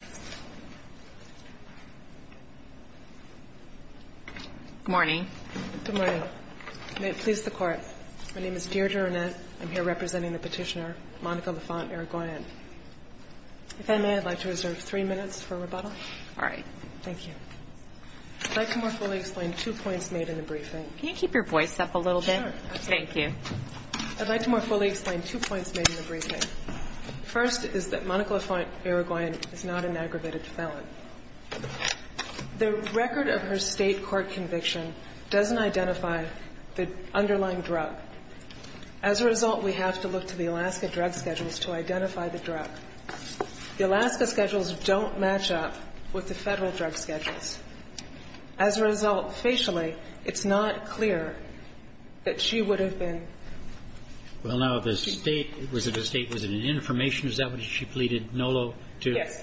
Good morning. May it please the Court. My name is Deirdre Arnett. I'm here representing the petitioner, Monica Laffont-Irigoyen. If I may, I'd like to reserve three minutes for rebuttal. All right. Thank you. I'd like to more fully explain two points made in the briefing. Can you keep your voice up a little bit? Sure. Thank you. I'd like to more fully explain two points made in the briefing. First is that Monica Laffont-Irigoyen is not an aggravated felon. The record of her State court conviction doesn't identify the underlying drug. As a result, we have to look to the Alaska drug schedules to identify the drug. The Alaska schedules don't match up with the Federal drug schedules. As a result, facially, it's not clear that she would have been. Well, now, the State, was it an information? Is that what she pleaded, NOLO, to? Yes.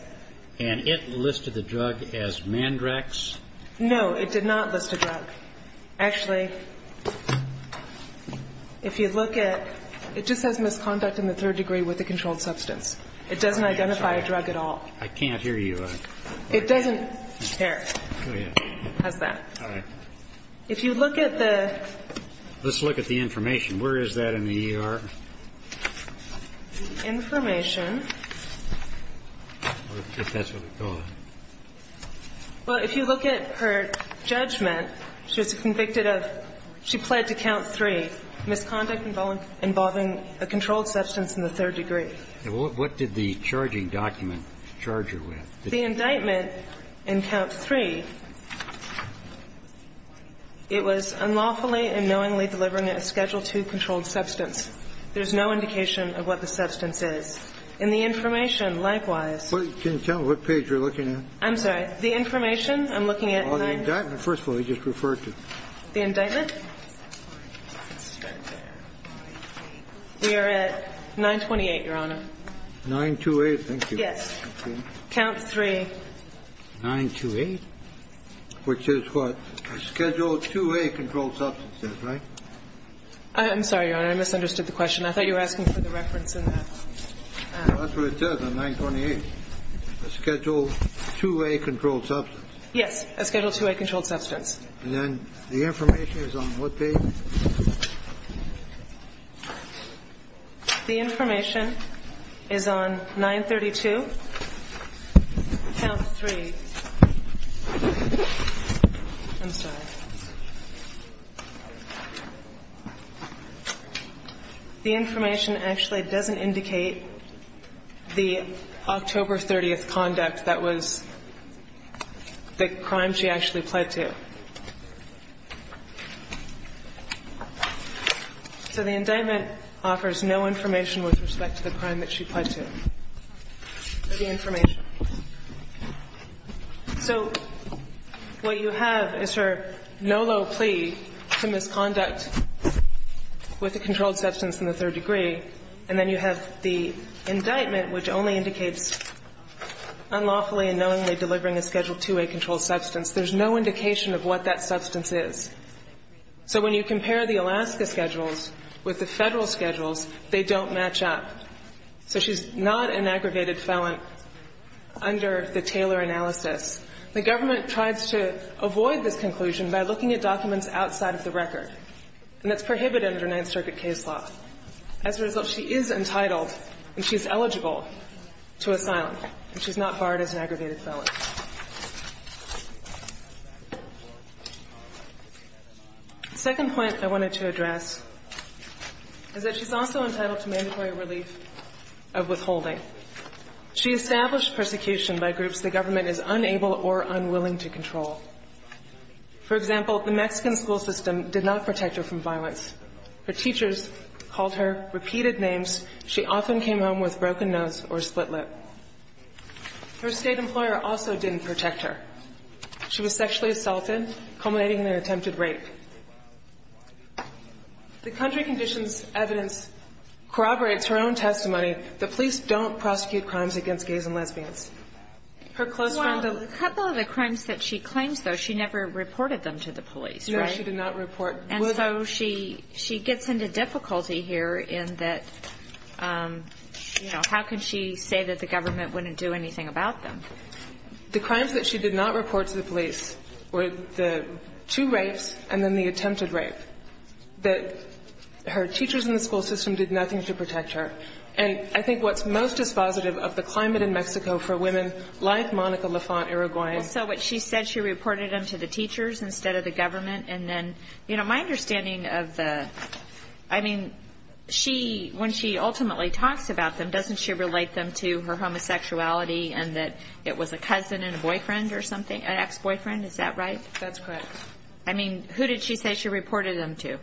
And it listed the drug as Mandrax? No. It did not list a drug. Actually, if you look at – it just says misconduct in the third degree with a controlled substance. It doesn't identify a drug at all. I can't hear you. It doesn't care, has that. All right. If you look at the – Let's look at the information. Where is that in the ER? The information. If that's what it's called. Well, if you look at her judgment, she was convicted of – she pled to count three, misconduct involving a controlled substance in the third degree. What did the charging document charge her with? The indictment in count three, it was unlawfully and knowingly delivering a Schedule II controlled substance. There's no indication of what the substance is. In the information, likewise – Can you tell me what page you're looking at? I'm sorry. The information, I'm looking at – The indictment, first of all, you just referred to. The indictment? We are at 928, Your Honor. 928, thank you. Yes. Count three. 928, which is what? Schedule IIA controlled substances, right? I'm sorry, Your Honor. I misunderstood the question. I thought you were asking for the reference in that. That's what it says on 928, a Schedule IIA controlled substance. Yes, a Schedule IIA controlled substance. And then the information is on what page? The information is on 932, count three. I'm sorry. The information actually doesn't indicate the October 30th conduct that was the crime she actually pled to. So the indictment offers no information with respect to the crime that she pled to. The information. So what you have is her no low plea to misconduct with a controlled substance in the third degree and then you have the indictment which only indicates unlawfully and knowingly delivering a Schedule IIA controlled substance. There's no indication of what that substance is. So when you compare the Alaska schedules with the federal schedules, they don't match up. So she's not an aggravated felon under the Taylor analysis. The government tries to avoid this conclusion by looking at documents outside of the record. And that's prohibited under Ninth Circuit case law. As a result, she is entitled and she's eligible to asylum. And she's not barred as an aggravated felon. The second point I wanted to address is that she's also entitled to mandatory relief of withholding. She established persecution by groups the government is unable or unwilling to control. For example, the Mexican school system did not protect her from violence. Her teachers called her repeated names. She often came home with broken nose or split lip. Her state employer also didn't protect her. She was sexually assaulted, culminating in an attempted rape. The country conditions evidence corroborates her own testimony. The police don't prosecute crimes against gays and lesbians. Her close friend of the law. Well, a couple of the crimes that she claims, though, she never reported them to the police, right? No, she did not report. And so she gets into difficulty here in that, you know, how can she say that the government wouldn't do anything about them? The crimes that she did not report to the police were the two rapes and then the attempted rape. That her teachers in the school system did nothing to protect her. And I think what's most dispositive of the climate in Mexico for women like Monica Lafont-Uruguay. So what she said, she reported them to the teachers instead of the government. And then, you know, my understanding of the, I mean, she, when she ultimately talks about them, doesn't she relate them to her homosexuality and that it was a cousin and a boyfriend or something, an ex-boyfriend? Is that right? That's correct. I mean, who did she say she reported them to?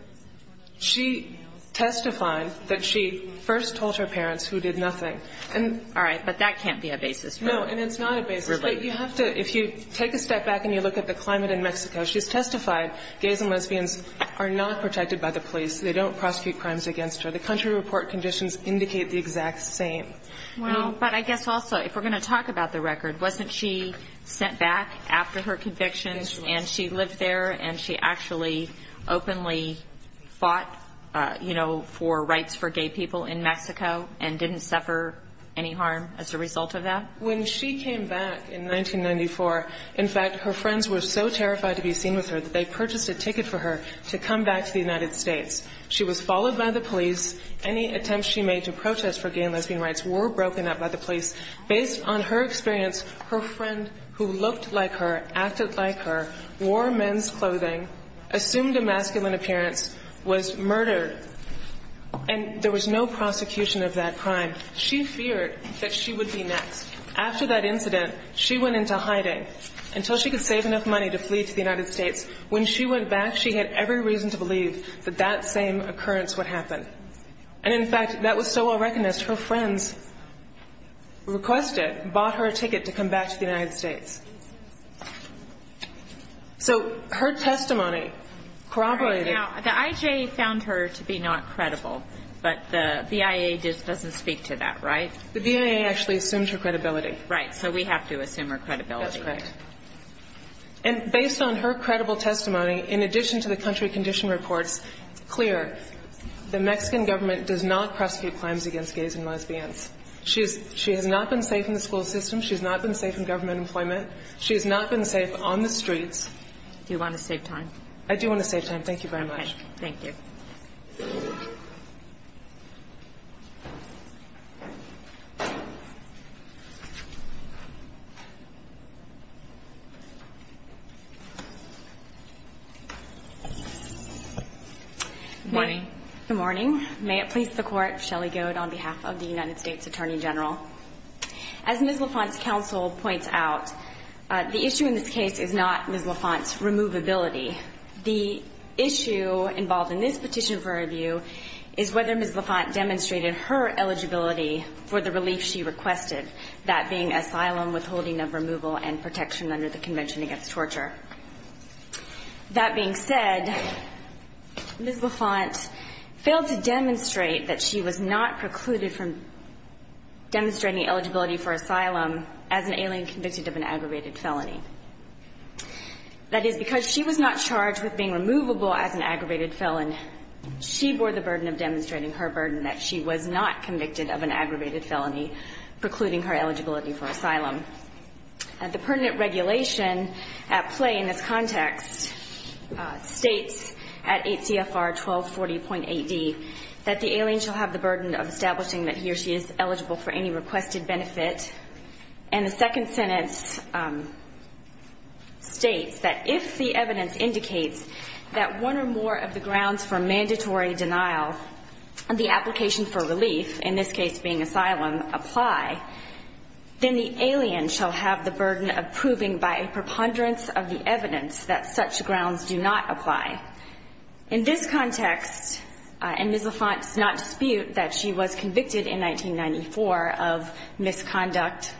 She testified that she first told her parents, who did nothing. All right, but that can't be a basis. No, and it's not a basis. But you have to, if you take a step back and you look at the climate in Mexico, she's testified gays and lesbians are not protected by the police. They don't prosecute crimes against her. The country report conditions indicate the exact same. Well, but I guess also, if we're going to talk about the record, wasn't she sent back after her convictions and she lived there and she actually openly fought, you know, for rights for gay people in Mexico and didn't suffer any harm as a result of that? When she came back in 1994, in fact, her friends were so terrified to be seen with her that they purchased a ticket for her to come back to the United States. She was followed by the police. Any attempts she made to protest for gay and lesbian rights were broken up by the police. Based on her experience, her friend who looked like her, acted like her, wore men's clothing, assumed a masculine appearance, was murdered, and there was no prosecution of that crime. She feared that she would be next. After that incident, she went into hiding. Until she could save enough money to flee to the United States, when she went back, she had every reason to believe that that same occurrence would happen. And, in fact, that was so well recognized, her friends requested, bought her a ticket to come back to the United States. So her testimony corroborated. Now, the IJA found her to be not credible, but the BIA doesn't speak to that, right? The BIA actually assumes her credibility. Right, so we have to assume her credibility. That's correct. And based on her credible testimony, in addition to the country condition reports, it's clear the Mexican government does not prosecute crimes against gays and lesbians. She has not been safe in the school system. She has not been safe in government employment. She has not been safe on the streets. Do you want to save time? I do want to save time. Thank you very much. Okay, thank you. Good morning. Good morning. May it please the Court, Shelley Goad on behalf of the United States Attorney General. As Ms. LaFont's counsel points out, the issue in this case is not Ms. LaFont's removability. The issue involved in this petition for review is whether Ms. LaFont demonstrated her eligibility for the relief she requested, that being asylum, withholding of removal, and protection under the Convention Against Torture. That being said, Ms. LaFont failed to demonstrate that she was not precluded from demonstrating eligibility for asylum as an alien convicted of an aggravated felony. That is, because she was not charged with being removable as an aggravated felon, she bore the burden of demonstrating her burden, that she was not convicted of an aggravated felony precluding her eligibility for asylum. The pertinent regulation at play in this context states at 8 CFR 1240.AD that the alien shall have the burden of establishing that he or she is eligible for any requested benefit. And the second sentence states that if the evidence indicates that one or more of the grounds for mandatory denial, the application for relief, in this case being asylum, apply, then the alien shall have the burden of proving by a preponderance of the evidence that such grounds do not apply. In this context, and Ms. LaFont does not dispute that she was convicted in 1994 of misconduct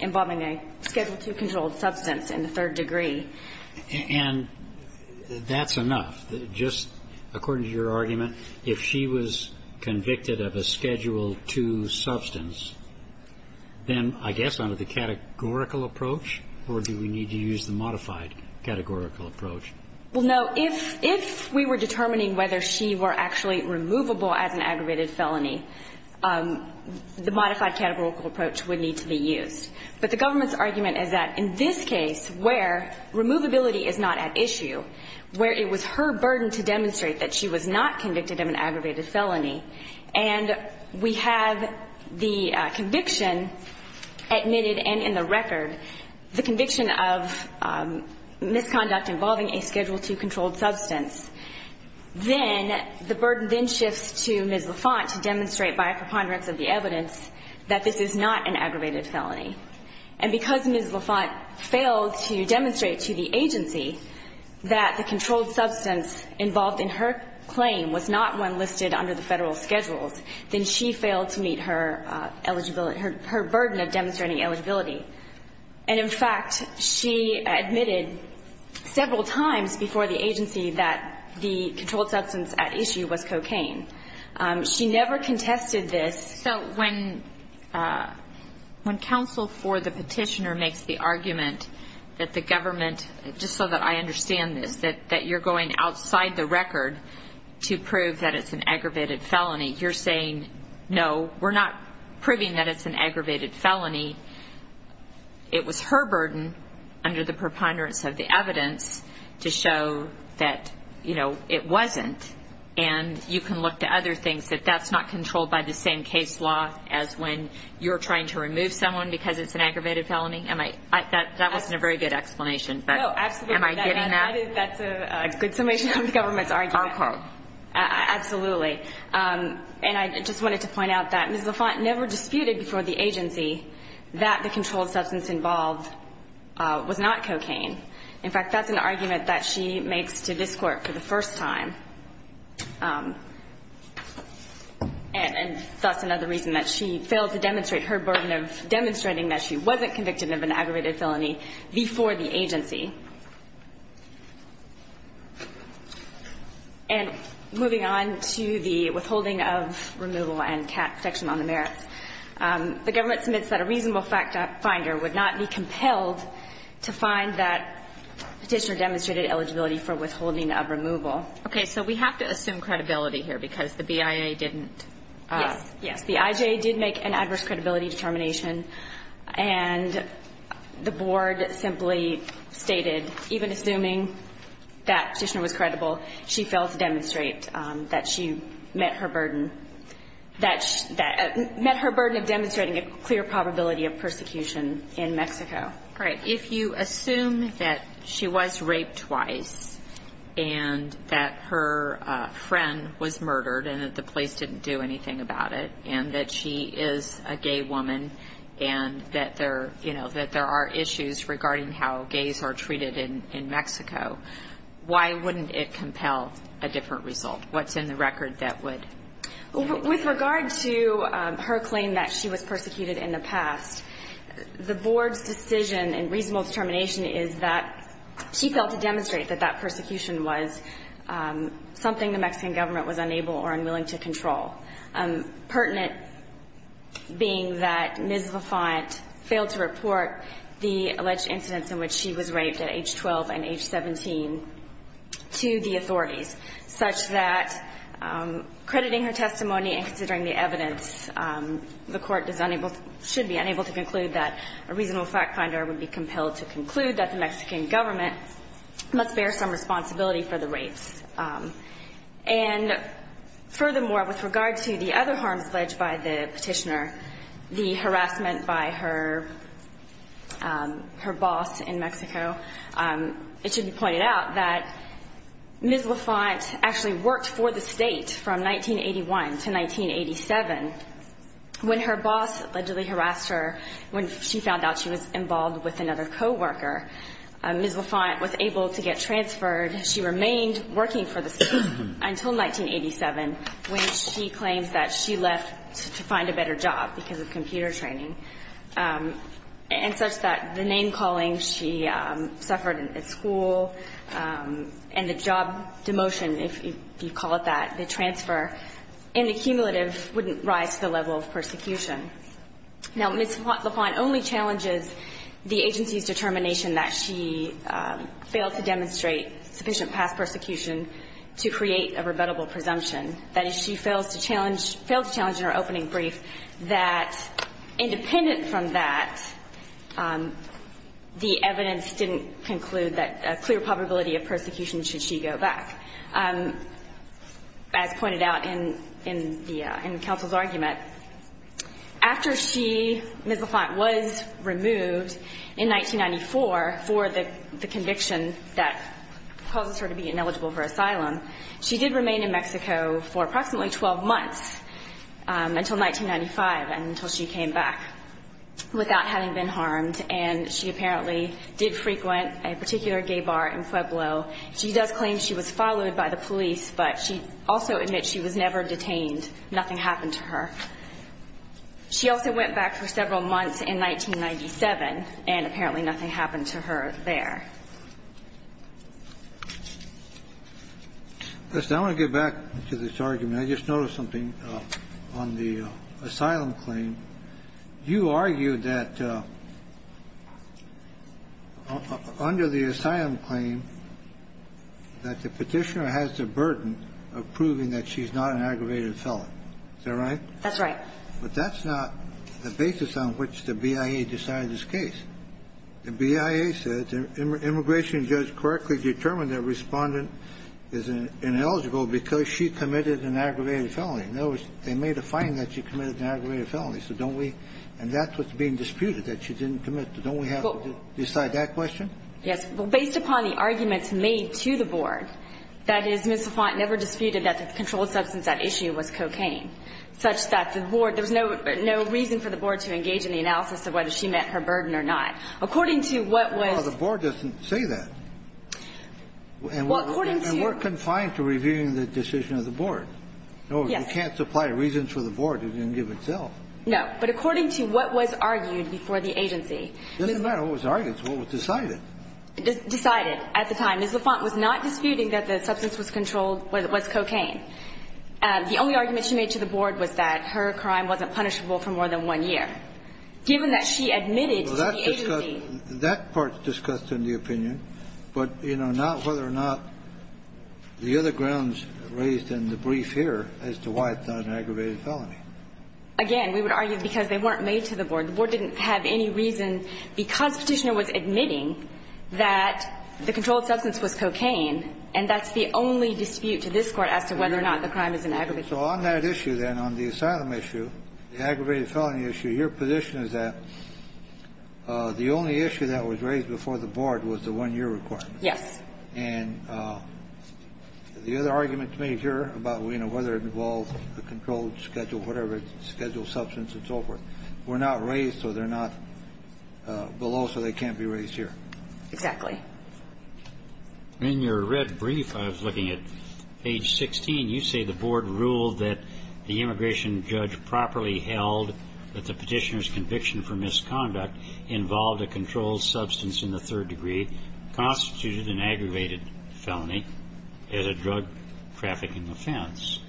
involving a Schedule II controlled substance in the third degree. And that's enough. Just according to your argument, if she was convicted of a Schedule II substance, then I guess under the categorical approach, or do we need to use the modified categorical approach? Well, no. If we were determining whether she were actually removable as an aggravated felony, the modified categorical approach would need to be used. But the government's argument is that in this case where removability is not at issue, where it was her burden to demonstrate that she was not convicted of an aggravated felony, and we have the conviction admitted and in the record, the conviction of misconduct involving a Schedule II controlled substance, then the burden then to demonstrate by a preponderance of the evidence that this is not an aggravated felony. And because Ms. LaFont failed to demonstrate to the agency that the controlled substance involved in her claim was not one listed under the Federal Schedules, then she failed to meet her eligibility, her burden of demonstrating eligibility. And in fact, she admitted several times before the agency that the controlled substance was an aggravated felony. She never contested this. So when counsel for the petitioner makes the argument that the government, just so that I understand this, that you're going outside the record to prove that it's an aggravated felony, you're saying, no, we're not proving that it's an aggravated felony. It was her burden under the preponderance of the evidence to show that, you know, it wasn't. And you can look to other things, that that's not controlled by the same case law as when you're trying to remove someone because it's an aggravated felony. That wasn't a very good explanation, but am I getting that? No, absolutely. That's a good summation of the government's argument. Okay. Absolutely. And I just wanted to point out that Ms. LaFont never disputed before the agency that the controlled substance involved was not cocaine. In fact, that's an argument that she makes to this court for the first time. And that's another reason that she failed to demonstrate her burden of demonstrating that she wasn't convicted of an aggravated felony before the agency. And moving on to the withholding of removal and protection on the merits. The government submits that a reasonable finder would not be compelled to find that petitioner demonstrated eligibility for withholding of removal. Okay. So we have to assume credibility here because the BIA didn't. Yes. Yes. The IJ did make an adverse credibility determination, and the board simply stated, even assuming that petitioner was credible, she failed to demonstrate that she met her burden of demonstrating a clear probability of persecution in Mexico. Right. If you assume that she was raped twice and that her friend was murdered and that the police didn't do anything about it and that she is a gay woman and that there are issues regarding how gays are treated in Mexico, why wouldn't it compel a different result? What's in the record that would? With regard to her claim that she was persecuted in the past, the board's decision and reasonable determination is that she failed to demonstrate that that persecution was something the Mexican government was unable or unwilling to control, pertinent being that Ms. LaFont failed to report the alleged incidents in which she was raped at age 12 and age 17 to the authorities, such that crediting her testimony and considering the evidence, the Court should be unable to conclude that a reasonable fact finder would be compelled to conclude that the Mexican government must bear some responsibility for the rapes. And furthermore, with regard to the other harms alleged by the petitioner, the harassment by her boss in Mexico, it should be pointed out that Ms. LaFont actually worked for the state from 1981 to 1987. When her boss allegedly harassed her, when she found out she was involved with until 1987, when she claims that she left to find a better job because of computer training, and such that the name-calling she suffered at school and the job demotion, if you call it that, the transfer, in the cumulative, wouldn't rise to the level of persecution. Now, Ms. LaFont only challenges the agency's determination that she failed to create a rebuttable presumption, that is, she failed to challenge in her opening brief that independent from that, the evidence didn't conclude that a clear probability of persecution should she go back. As pointed out in the counsel's argument, after she, Ms. LaFont, was removed in 1994 for the conviction that causes her to be ineligible for asylum, she did remain in Mexico for approximately 12 months until 1995 and until she came back without having been harmed, and she apparently did frequent a particular gay bar in Pueblo. She does claim she was followed by the police, but she also admits she was never detained. Nothing happened to her. She also went back for several months in 1997, and apparently nothing happened to her there. Kennedy. Listen, I want to get back to this argument. I just noticed something on the asylum claim. You argued that under the asylum claim that the Petitioner has the burden of proving that she's not an aggravated felon. Is that right? That's right. But that's not the basis on which the BIA decided this case. The BIA said the immigration judge correctly determined that Respondent is ineligible because she committed an aggravated felony. In other words, they made a finding that she committed an aggravated felony, so don't we – and that's what's being disputed, that she didn't commit. Don't we have to decide that question? Yes. Well, based upon the arguments made to the Board, that is, Ms. LaFont never disputed that the controlled substance at issue was cocaine, such that the Board – there was no reason for the Board to engage in the analysis of whether she met her burden or not. According to what was – Well, the Board doesn't say that. Well, according to – And we're confined to reviewing the decision of the Board. Yes. No, we can't supply reasons for the Board to then give itself. No. But according to what was argued before the agency – It doesn't matter what was argued. It's what was decided. Decided at the time. Well, Ms. LaFont was not disputing that the substance was controlled – was cocaine. The only argument she made to the Board was that her crime wasn't punishable for more than one year. Given that she admitted to the agency – Well, that's discussed – that part's discussed in the opinion, but, you know, not whether or not the other grounds raised in the brief here as to why it's not an aggravated felony. Again, we would argue because they weren't made to the Board. The Board didn't have any reason because Petitioner was admitting that the controlled substance was cocaine, and that's the only dispute to this Court as to whether or not the crime is an aggravated felony. So on that issue, then, on the asylum issue, the aggravated felony issue, your position is that the only issue that was raised before the Board was the one-year requirement. Yes. And the other argument made here about, you know, whether it involved a controlled schedule, whatever, scheduled substance and so forth, were not raised, so they're not below, so they can't be raised here. Exactly. In your red brief, I was looking at page 16, you say the Board ruled that the immigration judge properly held that the Petitioner's conviction for misconduct involved a controlled substance in the third degree, constituted an aggravated felony as a drug trafficking offense,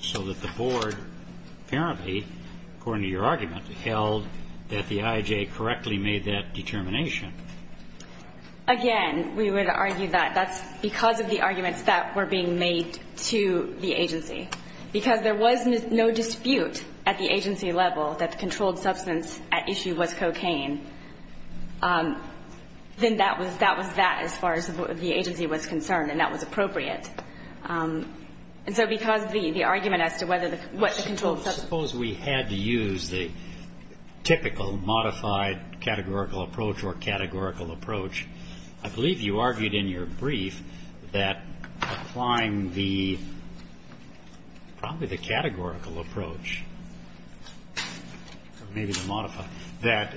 so that the Board apparently, according to your argument, held that the I.J. correctly made that determination. Again, we would argue that that's because of the arguments that were being made to the agency. Because there was no dispute at the agency level that the controlled substance at issue was cocaine, then that was that as far as the agency was concerned, and that was appropriate. And so because of the argument as to whether the – what the controlled substance I suppose we had to use the typical modified categorical approach or categorical approach. I believe you argued in your brief that applying the – probably the categorical approach, or maybe the modified, that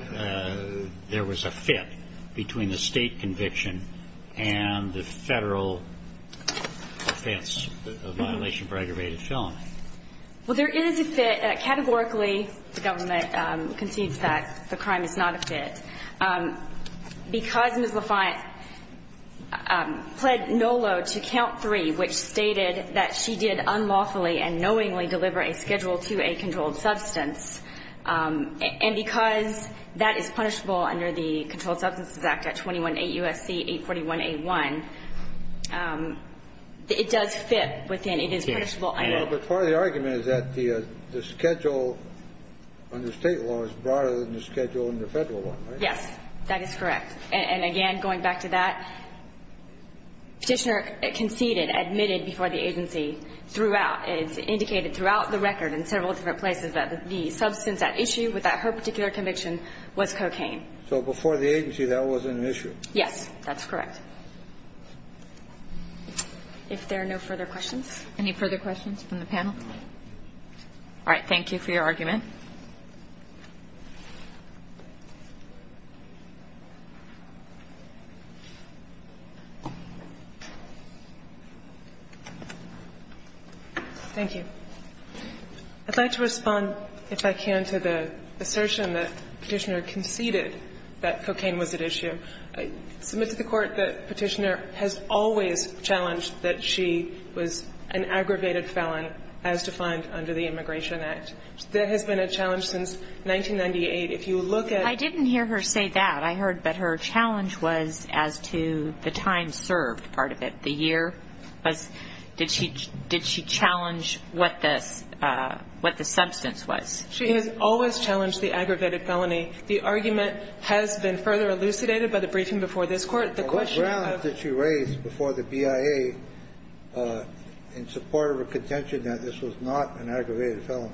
there was a fit between the State conviction and the Federal offense, a violation for aggravated felony. Well, there is a fit. Categorically, the Government concedes that the crime is not a fit. Because Ms. LaFont pled no load to Count 3, which stated that she did unlawfully and knowingly deliver a Schedule IIa controlled substance, and because that is punishable under the Controlled Substances Act at 21-8 U.S.C. 841a1, it does fit within that. And it is punishable by law. Well, but part of the argument is that the Schedule under State law is broader than the Schedule under Federal law, right? Yes, that is correct. And again, going back to that, Petitioner conceded, admitted before the agency throughout – indicated throughout the record in several different places that the substance at issue without her particular conviction was cocaine. So before the agency, that wasn't an issue. Yes, that's correct. If there are no further questions? Yes. Any further questions from the panel? All right. Thank you for your argument. Thank you. I'd like to respond, if I can, to the assertion that Petitioner conceded that cocaine was at issue. I'm not sure if I'm hearing this correctly, but I believe it was stated by the briefing before this court, the question of – Well, what grounds did she raise before the BIA in support of her contention that this was not an aggravated felony?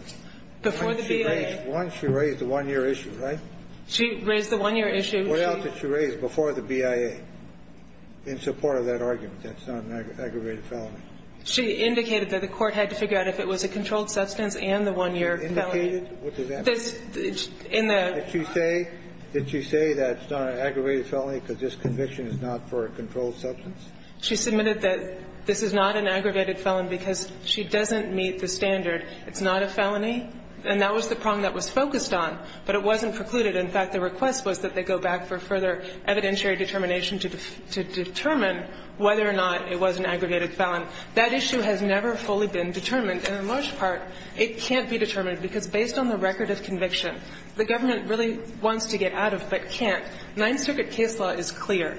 Before the BIA – One, she raised the one-year issue, right? She raised the one-year issue. She – What else did she raise before the BIA, in support of that argument that it's not an aggravated felony? and the one-year felony. One-year felony. What does that mean? In the – Did she say that it's not an aggravated felony because this conviction is not for a controlled substance? She submitted that this is not an aggravated felony because she doesn't meet the standard. It's not a felony, and that was the prong that was focused on, but it wasn't precluded. In fact, the request was that they go back for further evidentiary determination to determine whether or not it was an aggravated felony. That issue has never fully been determined, and in large part, it can't be determined because based on the record of conviction, the government really wants to get out of it, but can't. Ninth Circuit case law is clear.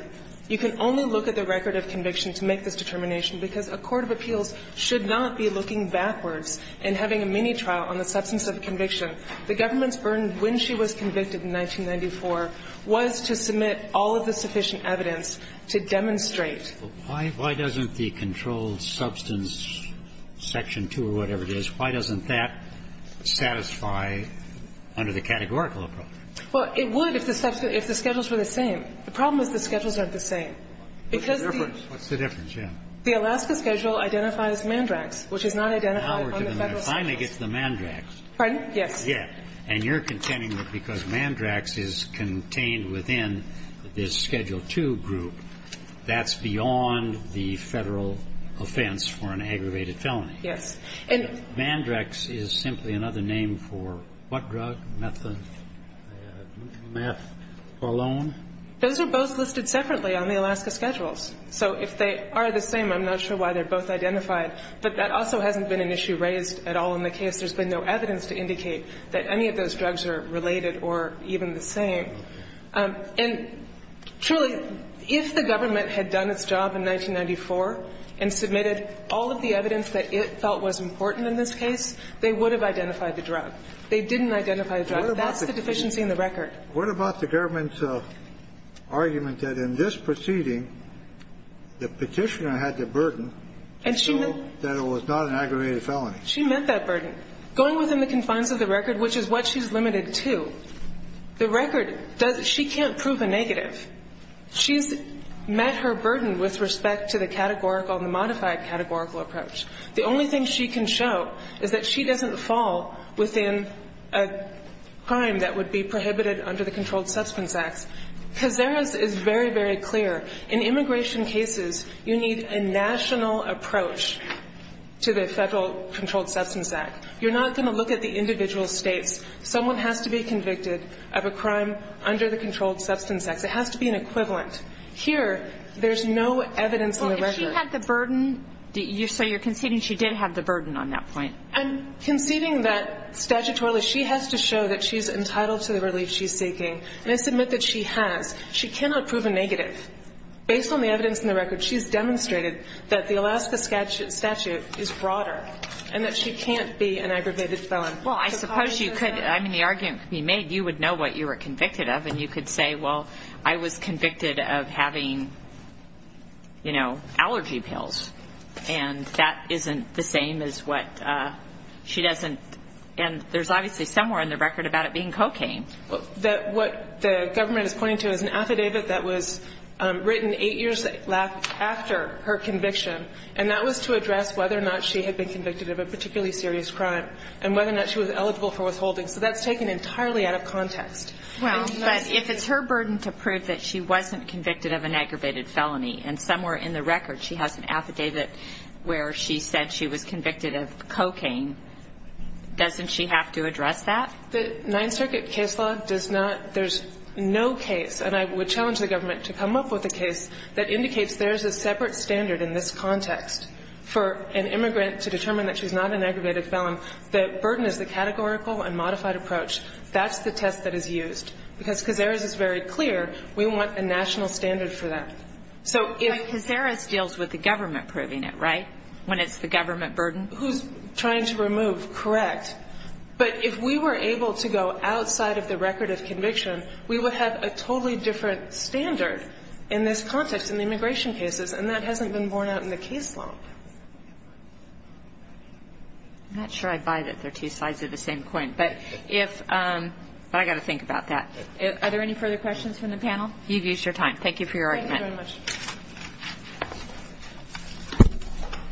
You can only look at the record of conviction to make this determination because a court of appeals should not be looking backwards and having a mini-trial on the substance of a conviction. The government's burden when she was convicted in 1994 was to submit all of the sufficient evidence to demonstrate. Kennedy. Why doesn't the controlled substance section 2 or whatever it is, why doesn't that satisfy under the categorical approach? Well, it would if the schedules were the same. The problem is the schedules aren't the same. What's the difference? What's the difference? Yeah. The Alaska schedule identifies mandrax, which is not identified on the Federal Schedules. Now we're getting there. It finally gets to the mandrax. Yes. And you're contending that because mandrax is contained within this schedule 2 group, that's beyond the Federal offense for an aggravated felony. Yes. Mandrax is simply another name for what drug? Methadone? Those are both listed separately on the Alaska schedules. So if they are the same, I'm not sure why they're both identified. But that also hasn't been an issue raised at all in the case. There's been no evidence to indicate that any of those drugs are related or even the same. And truly, if the government had done its job in 1994 and submitted all of the evidence that it felt was important in this case, they would have identified the drug. They didn't identify the drug. That's the deficiency in the record. What about the government's argument that in this proceeding, the Petitioner had the burden to show that it was not an aggravated felony? She meant that burden. Going within the confines of the record, which is what she's limited to, the record doesn't – she can't prove a negative. She's met her burden with respect to the categorical and the modified categorical approach. The only thing she can show is that she doesn't fall within a crime that would be prohibited under the Controlled Substance Acts. Cazares is very, very clear. In immigration cases, you need a national approach to the Federal Controlled Substance Act. You're not going to look at the individual states. Someone has to be convicted of a crime under the Controlled Substance Acts. It has to be an equivalent. Here, there's no evidence in the record. Well, if she had the burden, so you're conceding she did have the burden on that point? I'm conceding that statutorily she has to show that she's entitled to the relief she's seeking. And I submit that she has. She cannot prove a negative. Based on the evidence in the record, she's demonstrated that the Alaska statute is broader and that she can't be an aggravated felon. Well, I suppose you could. I mean, the argument could be made. You would know what you were convicted of. And you could say, well, I was convicted of having, you know, allergy pills. And that isn't the same as what she doesn't. And there's obviously somewhere in the record about it being cocaine. What the government is pointing to is an affidavit that was written eight years after her conviction. And that was to address whether or not she had been convicted of a particularly serious crime and whether or not she was eligible for withholding. So that's taken entirely out of context. Well, but if it's her burden to prove that she wasn't convicted of an aggravated felony, and somewhere in the record she has an affidavit where she said she was convicted of cocaine, doesn't she have to address that? The Ninth Circuit case law does not. There's no case, and I would challenge the government to come up with a case that indicates there's a separate standard in this context for an immigrant to determine that she's not an aggravated felon. The burden is the categorical and modified approach. That's the test that is used. Because Cazares is very clear. We want a national standard for that. But Cazares deals with the government proving it, right, when it's the government burden? Who's trying to remove? Correct. But if we were able to go outside of the record of conviction, we would have a totally different standard in this context in the immigration cases, and that I'm not sure I buy that they're two sides of the same coin. But I've got to think about that. Are there any further questions from the panel? You've used your time. Thank you for your argument. Thank you very much.